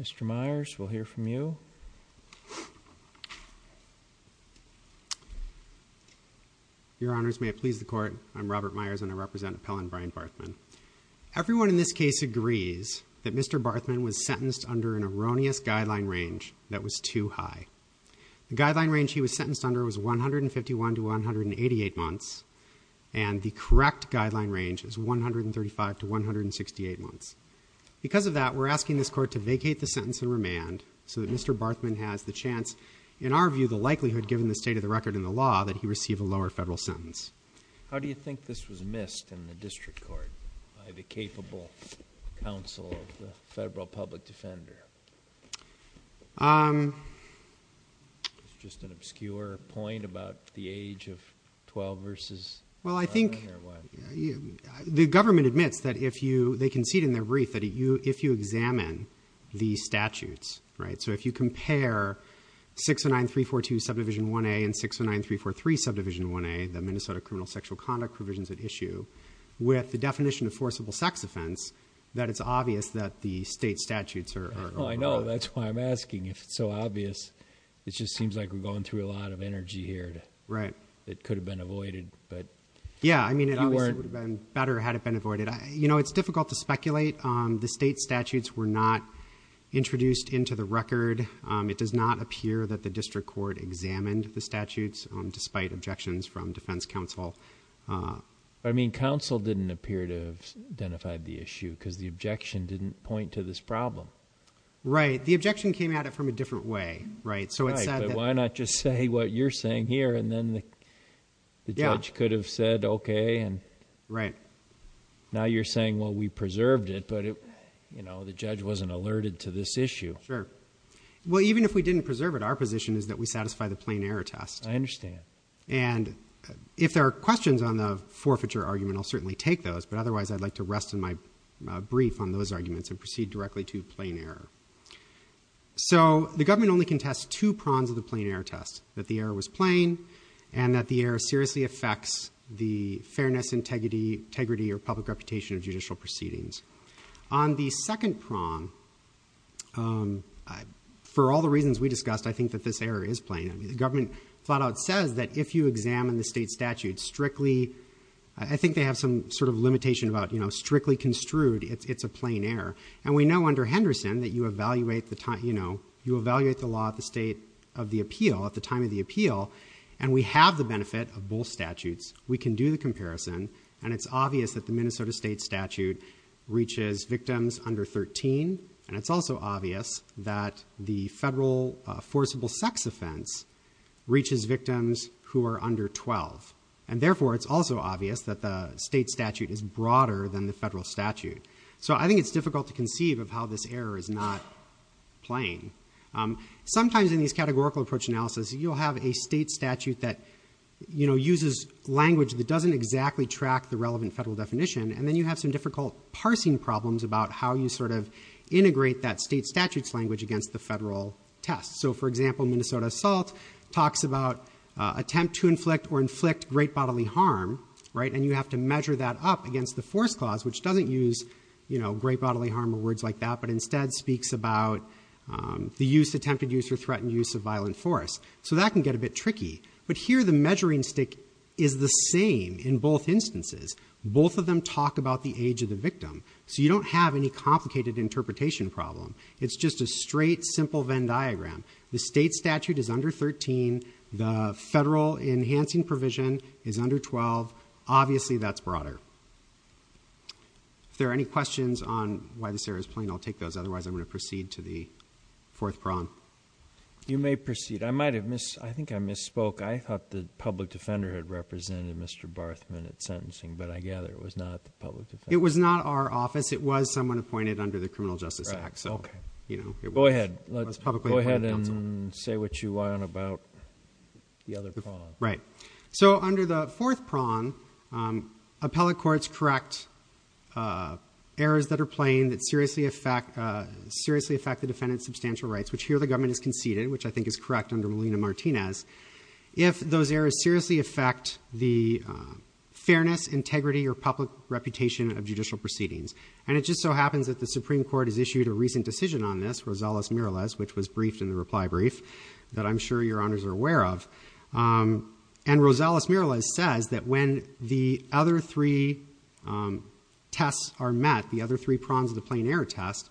Mr. Myers, we'll hear from you. Your Honors, may it please the Court, I'm Robert Myers and I represent Appellant Brian Barthman. Everyone in this case agrees that Mr. Barthman was sentenced under an erroneous guideline range that was too high. The guideline range he was sentenced under was 151 to 188 months, and the correct guideline range was 135 to 168 months. Because of that, we're asking this Court to vacate the sentence and remand so that Mr. Barthman has the chance, in our view, the likelihood, given the state of the record and the law, that he receive a lower federal sentence. How do you think this was missed in the District Court by the capable counsel of the Federal Public Defender? It's just an obscure point about the age of 12 v. Brian Barthman or what? Well, I think the government admits that if you, they concede in their brief that if you examine the statutes, right, so if you compare 609342 Subdivision 1A and 609343 Subdivision 1A, the Minnesota Criminal Sexual Conduct Provisions at Issue, with the definition of forcible sex offense, that it's obvious that the state statutes are wrong. Oh, I know. That's why I'm asking. If it's so obvious, it just seems like we're going through a lot of energy here that could have been avoided. Yeah, I mean, it obviously would have been better had it been avoided. You know, it's difficult to speculate. The state statutes were not introduced into the record. It does not appear that the District Court examined the statutes, despite objections from defense counsel. I mean, counsel didn't appear to have identified the issue because the objection didn't point to this problem. Right. The objection came at it from a different way, right? Right, but why not just say what you're saying here, and then the judge could have said, okay, and now you're saying, well, we preserved it, but the judge wasn't alerted to this issue. Sure. Well, even if we didn't preserve it, our position is that we satisfy the plain error test. I understand. And if there are questions on the forfeiture argument, I'll certainly take those, but otherwise I'd like to rest in my brief on those arguments and proceed directly to plain error. So, the government only contests two prongs of the plain error test, that the error was plain and that the error seriously affects the fairness, integrity, or public reputation of judicial proceedings. On the second prong, for all the reasons we discussed, I think that this error is plain. I mean, the government flat out says that if you examine the state statute strictly, I think they have some sort of limitation about, you know, strictly construed, it's a plain error. And we know under Henderson that you evaluate the time, you know, you evaluate the law at the state of the appeal, at the time of the appeal, and we have the benefit of both statutes. We can do the comparison, and it's obvious that the Minnesota state statute reaches victims under 13, and it's also obvious that the federal forcible sex offense reaches victims who are under 12. And therefore, it's also obvious that the state statute is broader than the federal statute. So I think it's difficult to conceive of how this error is not plain. Sometimes in these categorical approach analysis, you'll have a state statute that, you know, uses language that doesn't exactly track the relevant federal definition, and then you have some difficult parsing problems about how you sort of integrate that state statute's language against the federal test. So for example, Minnesota assault talks about attempt to inflict or inflict great bodily harm, right? And you have to measure that up against the force clause, which doesn't use, you know, great bodily harm or words like that, but instead speaks about the use, attempted use or threatened use of violent force. So that can get a bit tricky. But here the measuring stick is the same in both instances. Both of them talk about the age of the victim. So you don't have any complicated interpretation problem. It's just a straight, simple Venn diagram. The state statute is under 13. The federal enhancing provision is under 12. Obviously that's broader. If there are any questions on why this error is plain, I'll take those. Otherwise, I'm going to proceed to the fourth problem. You may proceed. I might have missed, I think I misspoke. I thought the public defender had represented Mr. Barthman at sentencing, but I gather it was not the public defender. It was not our office. It was someone appointed under the Criminal Justice Act, so, you know. Go ahead. Let's go ahead and say what you want about the other prong. Right. So under the fourth prong, appellate courts correct errors that are plain that seriously affect the defendant's substantial rights, which here the government has conceded, which I think is correct under Molina-Martinez. If those errors seriously affect the fairness, integrity or public reputation of judicial proceedings, and it just so happens that the Supreme Court has issued a recent decision on this, Rosales-Miralez, which was briefed in the reply brief that I'm sure your honors are aware of. And Rosales-Miralez says that when the other three tests are met, the other three prongs of the plain error test,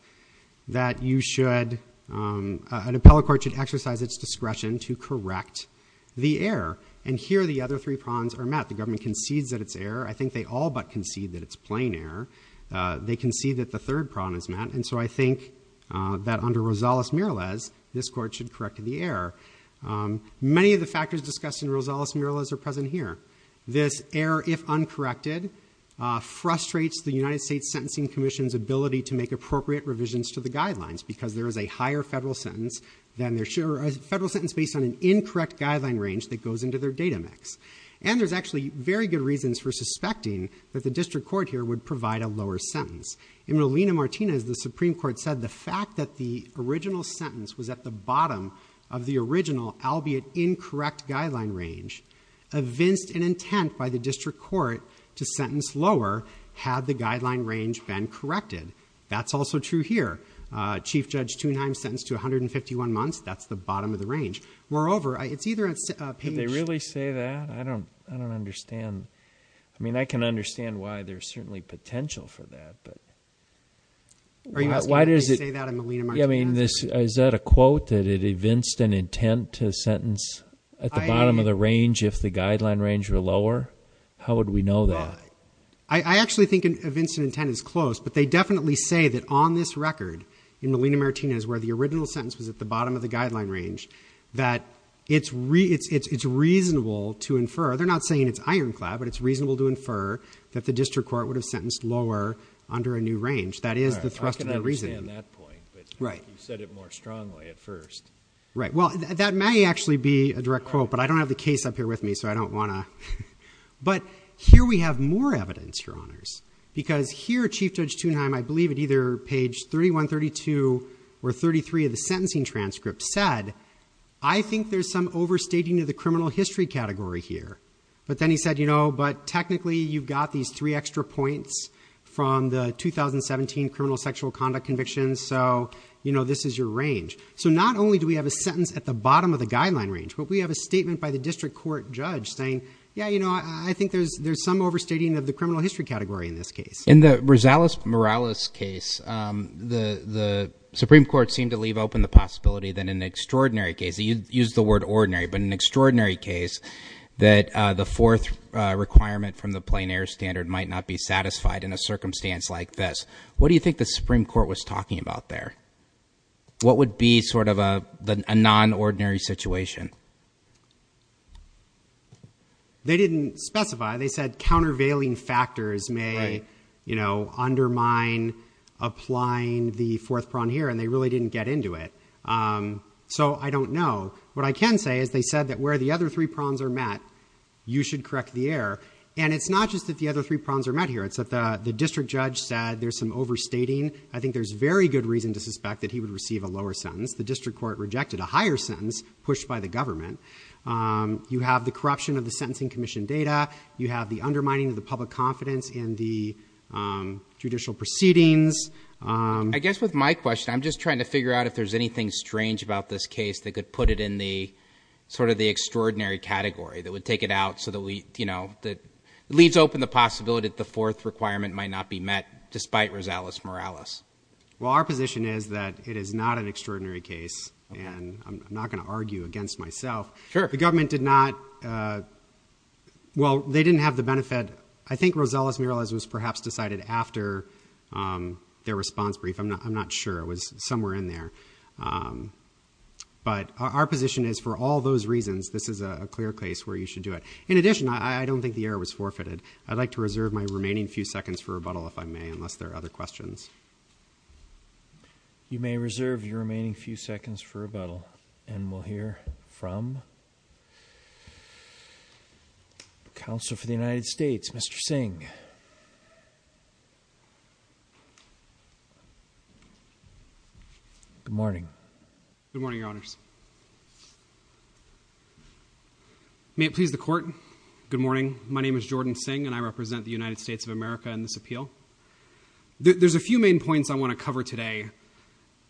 that you should, an appellate court should exercise its discretion to correct the error. And here the other three prongs are met. The government concedes that it's error. I think they all but concede that it's plain error. They concede that the third prong is met. And so I think that under Rosales-Miralez, this court should correct the error. Many of the factors discussed in Rosales-Miralez are present here. This error, if uncorrected, frustrates the United States Sentencing Commission's ability to make appropriate revisions to the guidelines, because there is a higher federal sentence than there should be, or a federal sentence based on an incorrect guideline range that goes into their data mix. And there's actually very good reasons for suspecting that the district court here would provide a lower sentence. In Molina-Martinez, the Supreme Court said the fact that the original sentence was at the bottom of the original, albeit incorrect, guideline range evinced an intent by the district court to sentence lower had the guideline range been corrected. That's also true here. Chief Judge Thunheim sentenced to 151 months. That's the bottom of the range. Moreover, it's either a page... Could they really say that? I don't understand. I mean, I can understand why there's certainly potential for that, but why does it... Are you asking if they say that in Molina-Martinez? Yeah, I mean, is that a quote that it evinced an intent to sentence at the bottom of the range if the guideline range were lower? How would we know that? I actually think it evinced an intent is close, but they definitely say that on this record in Molina-Martinez where the original sentence was at the bottom of the guideline range, that it's reasonable to infer. They're not saying it's ironclad, but it's reasonable to infer that the district court would have sentenced lower under a new range. That is the thrust of their reasoning. All right. I can understand that point, but you said it more strongly at first. Right. Well, that may actually be a direct quote, but I don't have the case up here with me, so I don't want to... But here we have more evidence, Your Honors, because here Chief Judge Thunheim, I believe at either page 31, 32, or 33 of the sentencing transcript, said, I think there's some overstating of the criminal history category here. But then he said, but technically you've got these three extra points from the 2017 criminal sexual conduct convictions, so this is your range. Not only do we have a sentence at the bottom of the guideline range, but we have a statement by the district court judge saying, yeah, I think there's some overstating of the criminal history category in this case. In the Rosales-Morales case, the Supreme Court seemed to leave open the possibility that in an extraordinary case... they used the word ordinary, but in an extraordinary case that the fourth requirement from the plein air standard might not be satisfied in a circumstance like this. What do you think the Supreme Court was talking about there? What would be sort of a non-ordinary situation? They didn't specify. They said countervailing factors may undermine applying the fourth prong here, and they really didn't get into it. So I don't know. What I can say is they said that where the other three prongs are met, you should correct the error. And it's not just that the other three prongs are met here. It's that the district judge said there's some overstating. I think there's very good reason to suspect that he would receive a lower sentence. The district court rejected a higher sentence pushed by the government. You have the corruption of the Sentencing Commission data. You have the undermining of the public confidence in the judicial proceedings. I guess with my question, I'm just trying to figure out if there's anything strange about this case that could put it in the sort of the extraordinary category that would take it out so that leaves open the possibility that the fourth requirement might not be met despite Rosales-Morales. Well, our position is that it is not an extraordinary case, and I'm not going to argue against myself. The government did not, well, they didn't have the benefit. But I think Rosales-Morales was perhaps decided after their response brief. I'm not sure. It was somewhere in there. But our position is for all those reasons, this is a clear case where you should do it. In addition, I don't think the error was forfeited. I'd like to reserve my remaining few seconds for rebuttal if I may, unless there are other questions. You may reserve your remaining few seconds for rebuttal, and we'll hear from Counsel for the United States, Mr. Singh. Good morning. Good morning, Your Honors. May it please the Court, good morning. My name is Jordan Singh, and I represent the United States of America in this appeal. There's a few main points I want to cover today,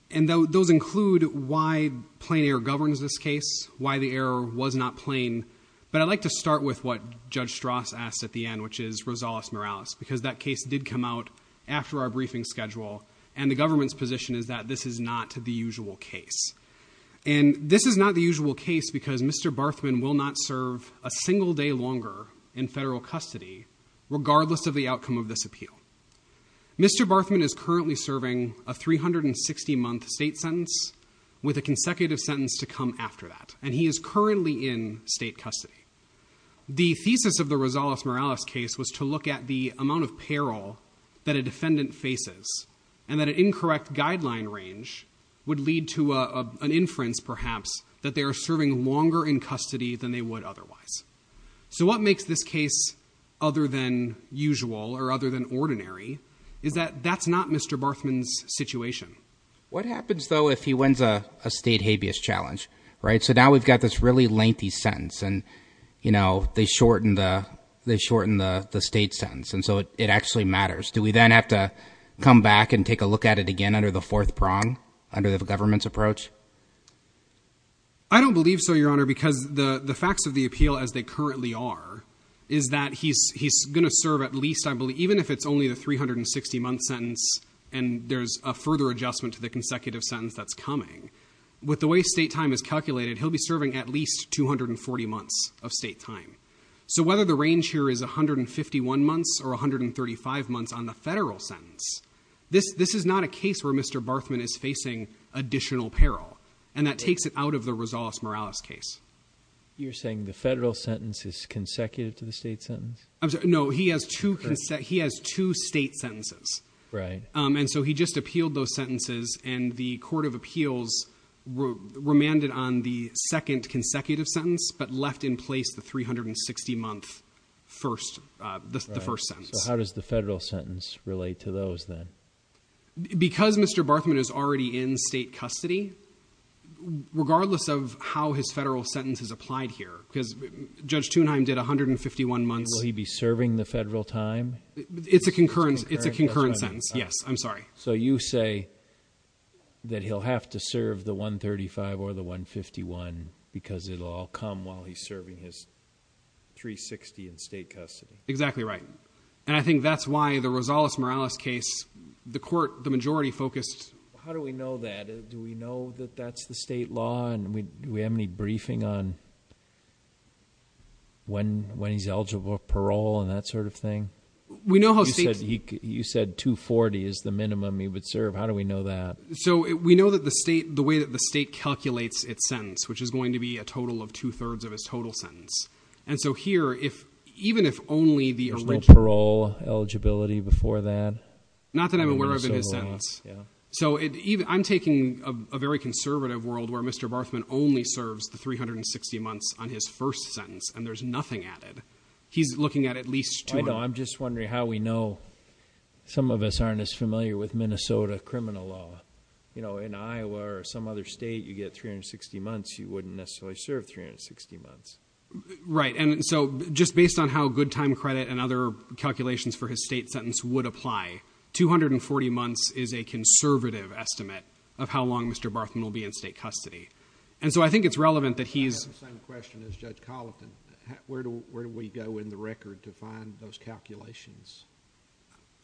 and those include why plain error governs this case, why the error was not plain, but I'd like to start with what Judge Strass asked at the end, which is Rosales-Morales, because that case did come out after our briefing schedule, and the government's position is that this is not the usual case. And this is not the usual case because Mr. Barthman will not serve a single day longer in federal custody, regardless of the outcome of this appeal. Mr. Barthman is currently serving a 360-month state sentence, with a consecutive sentence to come after that, and he is currently in state custody. The thesis of the Rosales-Morales case was to look at the amount of peril that a defendant faces and that an incorrect guideline range would lead to an inference, perhaps, that they are serving longer in custody than they would otherwise. So what makes this case other than usual or other than ordinary is that that's not Mr. Barthman's situation. What happens, though, if he wins a state habeas challenge, right? So now we've got this really lengthy sentence, and, you know, they shorten the state sentence, and so it actually matters. Do we then have to come back and take a look at it again under the fourth prong, under the government's approach? I don't believe so, Your Honor, because the facts of the appeal as they currently are is that he's going to serve at least, I believe, even if it's only the 360-month sentence and there's a further adjustment to the consecutive sentence that's coming. With the way state time is calculated, he'll be serving at least 240 months of state time. So whether the range here is 151 months or 135 months on the federal sentence, this is not a case where Mr. Barthman is facing additional peril, and that takes it out of the Rosales-Morales case. You're saying the federal sentence is consecutive to the state sentence? I'm sorry. No, he has two state sentences. Right. And so he just appealed those sentences, and the court of appeals remanded on the second consecutive sentence but left in place the 360-month first, the first sentence. Right. So how does the federal sentence relate to those then? Because Mr. Barthman is already in state custody, regardless of how his federal sentence is applied here, because Judge Thunheim did 151 months. Will he be serving the federal time? It's a concurrent, it's a concurrent sentence, yes. I'm sorry. So you say that he'll have to serve the 135 or the 151 because it'll all come while he's serving his 360 in state custody? Exactly right. And I think that's why the Rosales-Morales case, the court, the majority focused... How do we know that? Do we know that that's the state law, and do we have any briefing on when he's eligible for parole and that sort of thing? You said 240 is the minimum he would serve. How do we know that? So we know that the way that the state calculates its sentence, which is going to be a total of two-thirds of his total sentence. And so here, even if only the original parole eligibility before that... Not that I'm aware of in his sentence. So I'm taking a very conservative world where Mr. Barthman only serves the 360 months on his first sentence, and there's nothing added. He's looking at at least two... I know. I'm just wondering how we know. Some of us aren't as familiar with Minnesota criminal law. You know, in Iowa or some other state, you get 360 months. You wouldn't necessarily serve 360 months. Right. And so just based on how good time credit and other calculations for his state sentence would apply, 240 months is a conservative estimate of how long Mr. Barthman will be in state custody. And so I think it's relevant that he's... I have the same question as Judge Colleton. Where do we go in the record to find those calculations?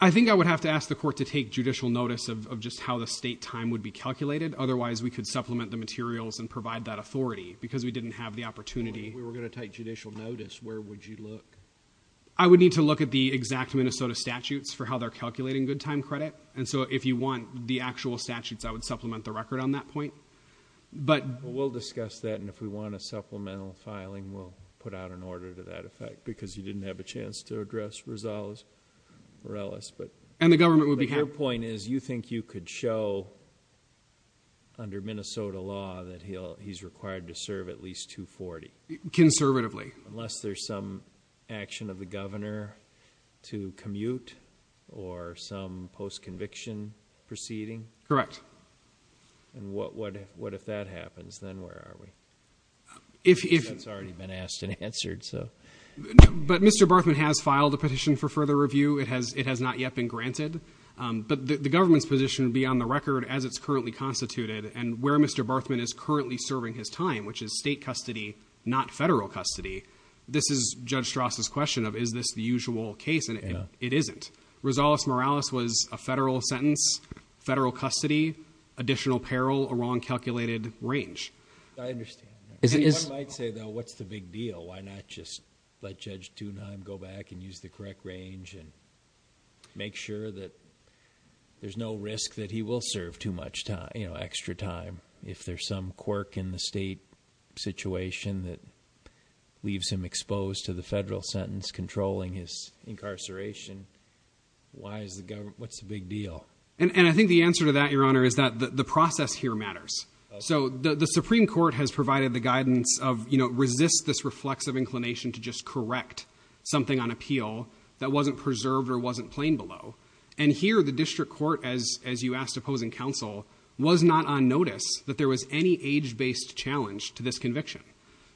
I think I would have to ask the court to take judicial notice of just how the state time would be calculated. Otherwise, we could supplement the materials and provide that authority because we didn't have the opportunity. If we were going to take judicial notice, where would you look? I would need to look at the exact Minnesota statutes for how they're calculating good time credit. And so if you want the actual statutes, I would supplement the record on that point. But... If we want a supplemental filing, we'll put out an order to that effect because you didn't have a chance to address Rosales-Morales, but... And the government would be happy... But your point is, you think you could show under Minnesota law that he's required to serve at least 240? Conservatively. Unless there's some action of the governor to commute or some post-conviction proceeding? Correct. And what if that happens? Then where are we? That's already been asked and answered, so... But Mr. Barthman has filed a petition for further review. It has not yet been granted, but the government's position would be on the record as it's currently constituted and where Mr. Barthman is currently serving his time, which is state custody, not federal custody. This is Judge Strass' question of, is this the usual case? It isn't. Rosales-Morales was a federal sentence, federal custody, additional peril, a wrong calculated range. I understand that. One might say, though, what's the big deal? Why not just let Judge Thunheim go back and use the correct range and make sure that there's no risk that he will serve too much time, extra time, if there's some quirk in the state situation that leaves him exposed to the federal sentence controlling his incarceration? Why is the government... What's the big deal? And I think the answer to that, Your Honor, is that the process here matters. So the Supreme Court has provided the guidance of, you know, resist this reflexive inclination to just correct something on appeal that wasn't preserved or wasn't plain below. And here, the district court, as you asked opposing counsel, was not on notice that there was any age-based challenge to this conviction.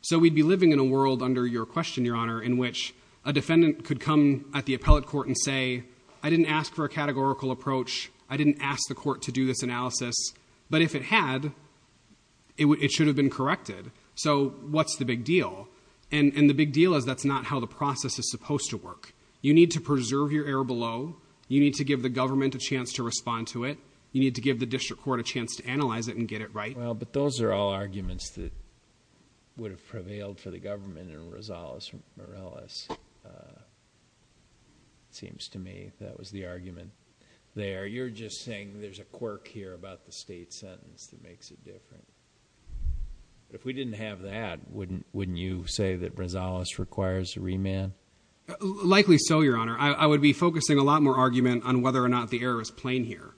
So we'd be living in a world under your question, Your Honor, in which a defendant could come at the appellate court and say, I didn't ask for a categorical approach. I didn't ask the court to do this analysis. But if it had, it should have been corrected. So what's the big deal? And the big deal is that's not how the process is supposed to work. You need to preserve your error below. You need to give the government a chance to respond to it. You need to give the district court a chance to analyze it and get it right. Well, but those are all arguments that would have prevailed for the government in Rosales and Morales. Seems to me that was the argument there. You're just saying there's a quirk here about the state sentence that makes it different. If we didn't have that, wouldn't wouldn't you say that Rosales requires a remand? Likely so, Your Honor. I would be focusing a lot more argument on whether or not the error is plain here.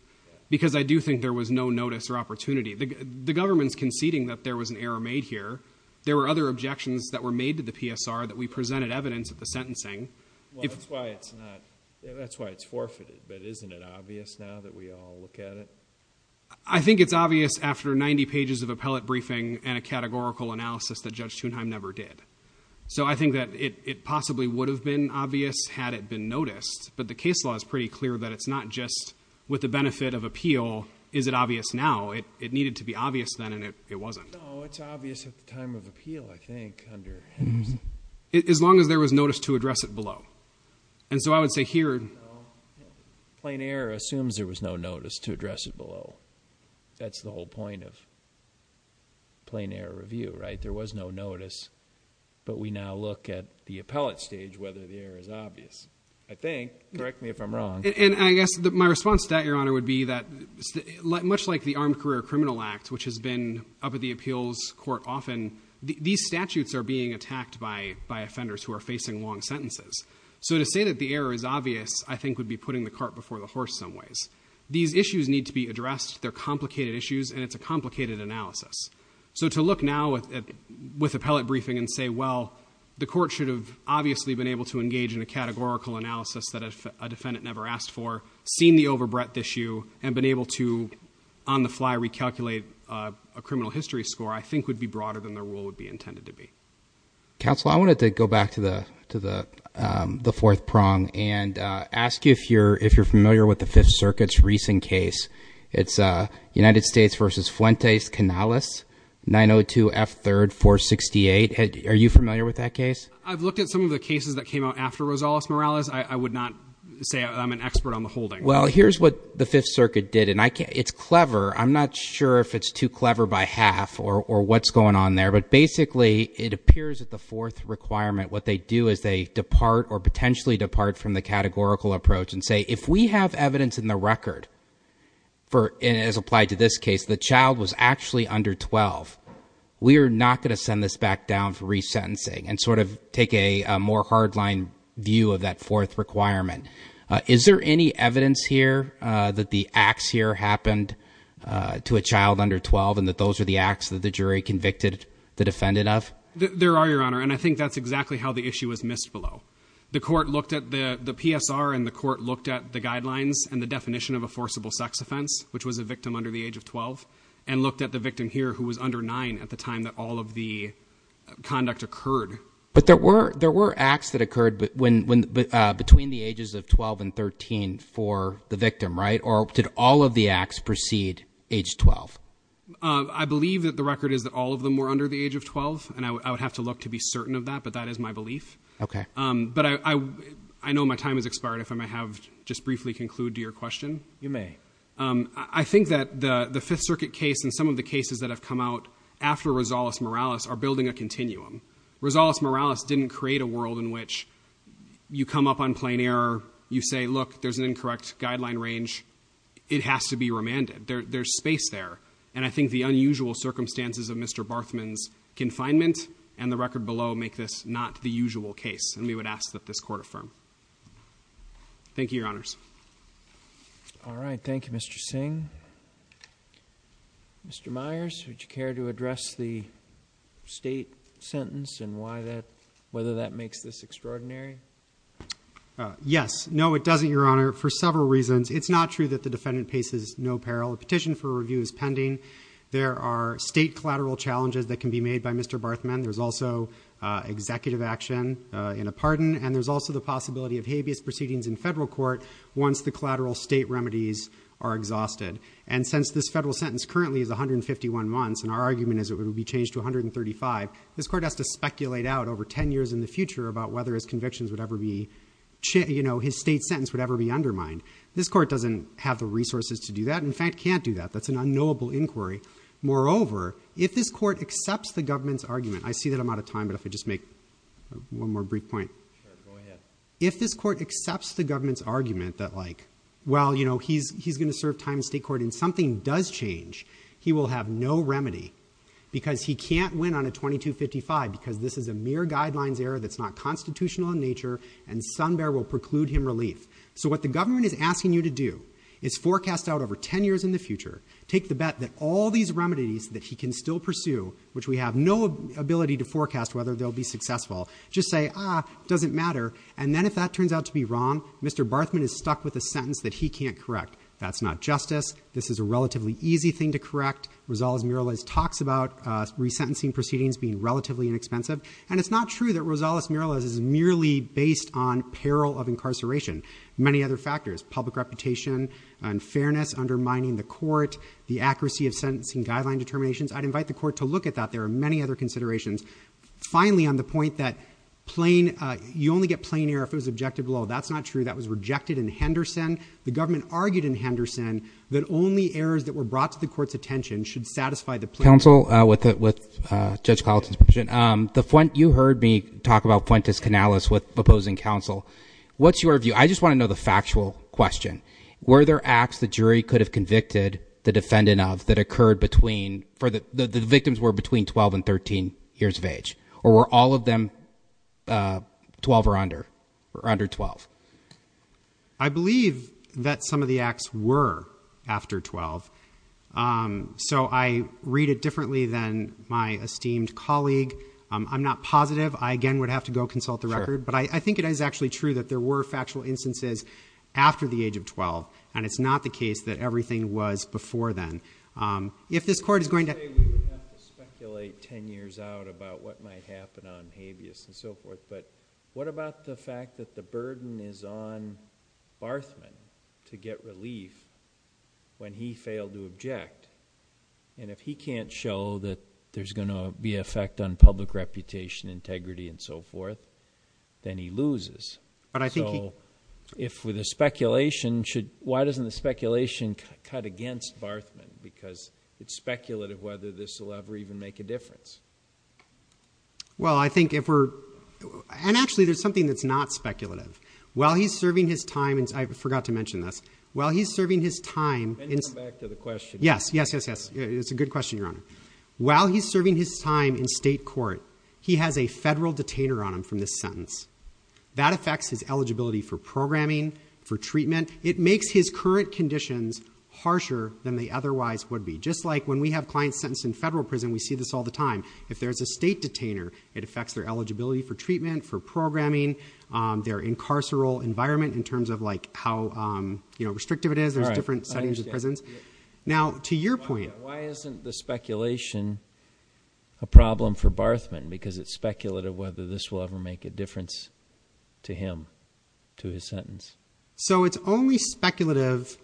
Because I do think there was no notice or opportunity. The government's conceding that there was an error made here. There were other objections that were made to the PSR that we presented evidence of the sentencing. Well, that's why it's not. That's why it's forfeited. But isn't it obvious now that we all look at it? I think it's obvious after 90 pages of appellate briefing and a categorical analysis that Judge Thunheim never did. So I think that it possibly would have been obvious had it been noticed. But the case law is pretty clear that it's not just with the benefit of appeal. Is it obvious now? It needed to be obvious then. And it wasn't. It's obvious at the time of appeal, I think, under. As long as there was notice to address it below. And so I would say here. Plain error assumes there was no notice to address it below. That's the whole point of plain error review, right? There was no notice. But we now look at the appellate stage, whether the error is obvious. I think. Correct me if I'm wrong. And I guess my response to that, Your Honor, would be that much like the Armed Career Criminal Act, which has been up at the appeals court often, these statutes are being attacked by offenders who are facing long sentences. So to say that the error is obvious, I think, would be putting the cart before the horse some ways. These issues need to be addressed. They're complicated issues and it's a complicated analysis. So to look now with appellate briefing and say, well, the court should have obviously been able to engage in a categorical analysis that a defendant never asked for, seen the overbreadth issue and been able to on the fly recalculate a criminal history score, I think would be broader than the rule would be intended to be. Counsel, I wanted to go back to the to the the fourth prong and ask you if you're if you're familiar with the Fifth Circuit's recent case. It's United States versus Fuentes-Canales, 902 F. 3rd 468. Are you familiar with that case? I've looked at some of the cases that came out after Rosales Morales. I would not say I'm an expert on the holding. Well, here's what the Fifth Circuit did. And it's clever. I'm not sure if it's too clever by half or what's going on there. But basically, it appears that the fourth requirement, what they do is they depart or potentially depart from the categorical approach and say, if we have evidence in the record for as applied to this case, the child was actually under 12. We are not going to send this back down for resentencing and sort of take a more hard line view of that fourth requirement. Is there any evidence here that the acts here happened to a child under 12 and that those are the acts that the jury convicted the defendant of? There are, Your Honor. And I think that's exactly how the issue was missed below. The court looked at the PSR and the court looked at the guidelines and the definition of a forcible sex offense, which was a victim under the age of 12, and looked at the guidelines and the definition of a forcible sex offense, which was a victim under the age of 9 at the time that all of the conduct occurred. But there were there were acts that occurred when between the ages of 12 and 13 for the victim, right? Or did all of the acts proceed age 12? I believe that the record is that all of them were under the age of 12. And I would have to look to be certain of that. But that is my belief. OK, but I know my time has expired. If I may have just briefly conclude to your question. You may. I think that the Fifth Circuit case and some of the cases that have come out after Rosales-Morales are building a continuum. Rosales-Morales didn't create a world in which you come up on plain error. You say, look, there's an incorrect guideline range. It has to be remanded. There's space there. And I think the unusual circumstances of Mr. Barthman's confinement and the record below make this not the usual case. And we would ask that this court affirm. Thank you, Your Honors. All right. Thank you, Mr. Singh. Mr. Myers, would you care to address the state sentence and why that whether that makes this extraordinary? Yes. No, it doesn't, Your Honor, for several reasons. It's not true that the defendant paces no peril. A petition for review is pending. There are state collateral challenges that can be made by Mr. Barthman. There's also executive action in a pardon. And there's also the possibility of habeas proceedings in federal court once the collateral state remedies are exhausted. And since this federal sentence currently is 151 months and our argument is it would be changed to 135, this court has to speculate out over 10 years in the future about whether his convictions would ever be, you know, his state sentence would ever be undermined. This court doesn't have the resources to do that. In fact, can't do that. That's an unknowable inquiry. Moreover, if this court accepts the government's argument, I see that I'm out of time, but if I just make one more brief point. If this court accepts the government's argument that like, well, you know, he's going to serve time in state court and something does change, he will have no remedy because he can't win on a 2255 because this is a mere guidelines error that's not constitutional in nature and sun bear will preclude him relief. So what the government is asking you to do is forecast out over 10 years in the future. Take the bet that all these remedies that he can still pursue, which we have no ability to forecast whether they'll be successful, just say, ah, doesn't matter. And then if that turns out to be wrong, Mr. Barthman is stuck with a sentence that he can't correct. That's not justice. This is a relatively easy thing to correct. Rosales-Murales talks about resentencing proceedings being relatively inexpensive, and it's not true that Rosales-Murales is merely based on peril of incarceration. Many other factors, public reputation, unfairness, undermining the court, the accuracy of sentencing guideline determinations. I'd invite the court to look at that. There are many other considerations. Finally, on the point that plain, you only get plain error if it was objective law. That's not true. That was rejected in Henderson. The government argued in Henderson that only errors that were brought to the court's attention should satisfy the plea. Counsel, with Judge Colleton's permission, you heard me talk about Fuentes-Canales with opposing counsel. What's your view? I just want to know the factual question. Were there acts the jury could have convicted the defendant of that occurred between, the victims were between 12 and 13 years of age? Or were all of them 12 or under, or under 12? I believe that some of the acts were after 12. So I read it differently than my esteemed colleague. I'm not positive. I, again, would have to go consult the record. But I think it is actually true that there were factual instances after the age of 12. And it's not the case that everything was before then. If this court is going to- I would say we would have to speculate 10 years out about what might happen on habeas and so forth. But what about the fact that the burden is on Barthman to get relief when he failed to object? And if he can't show that there's going to be an effect on public reputation, integrity, and so forth, then he loses. But I think he- So if with a speculation should- why doesn't the speculation cut against Barthman? Because it's speculative whether this will ever even make a difference. Well, I think if we're- and actually, there's something that's not speculative. While he's serving his time in- I forgot to mention this. While he's serving his time in- Can you come back to the question? Yes, yes, yes, yes. It's a good question, Your Honor. While he's serving his time in state court, he has a federal detainer on him from this sentence. That affects his eligibility for programming, for treatment. It makes his current conditions harsher than they otherwise would be. Just like when we have clients sentenced in federal prison, we see this all the time. If there's a state detainer, it affects their eligibility for treatment, for programming, their incarceral environment in terms of like how, you know, restrictive it is. There's different settings of prisons. Now, to your point- Why isn't the speculation a problem for Barthman? Because it's speculative whether this will ever make a difference to him, to his sentence. So it's only speculative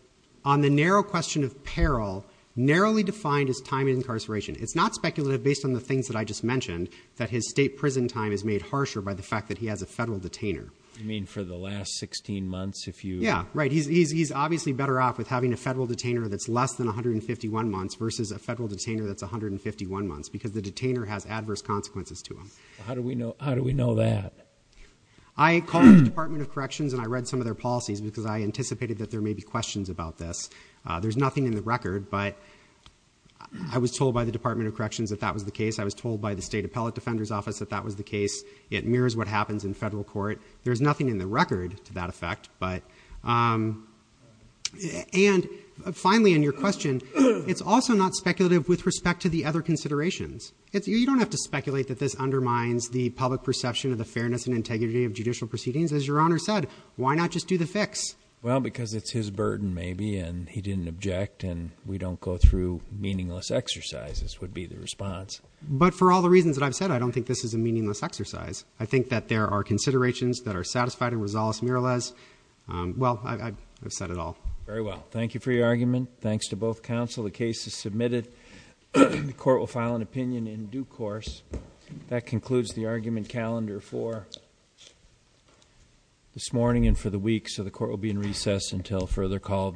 on the narrow question of peril, narrowly defined as time in incarceration. It's not speculative based on the things that I just mentioned, that his state prison time is made harsher by the fact that he has a federal detainer. You mean for the last 16 months, if you- Yeah, right. He's obviously better off with having a federal detainer that's less than 151 months versus a federal detainer that's 151 months, because the detainer has adverse consequences to him. How do we know that? I called the Department of Corrections and I read some of their policies because I anticipated that there may be questions about this. There's nothing in the record, but I was told by the Department of Corrections that that was the case. I was told by the State Appellate Defender's Office that that was the case. It mirrors what happens in federal court. There's nothing in the record to that effect, but- And finally, in your question, it's also not speculative with respect to the other considerations. You don't have to speculate that this undermines the public perception of the fairness and integrity of judicial proceedings. As your Honor said, why not just do the fix? Well, because it's his burden maybe, and he didn't object, and we don't go through meaningless exercises would be the response. But for all the reasons that I've said, I don't think this is a meaningless exercise. I think that there are considerations that are satisfied in Rosales-Miralez. Well, I've said it all. Very well. Thank you for your argument. Thanks to both counsel. The case is submitted. The court will file an opinion in due course. That concludes the argument calendar for this morning and for the week. So the court will be in recess until further call of the docket.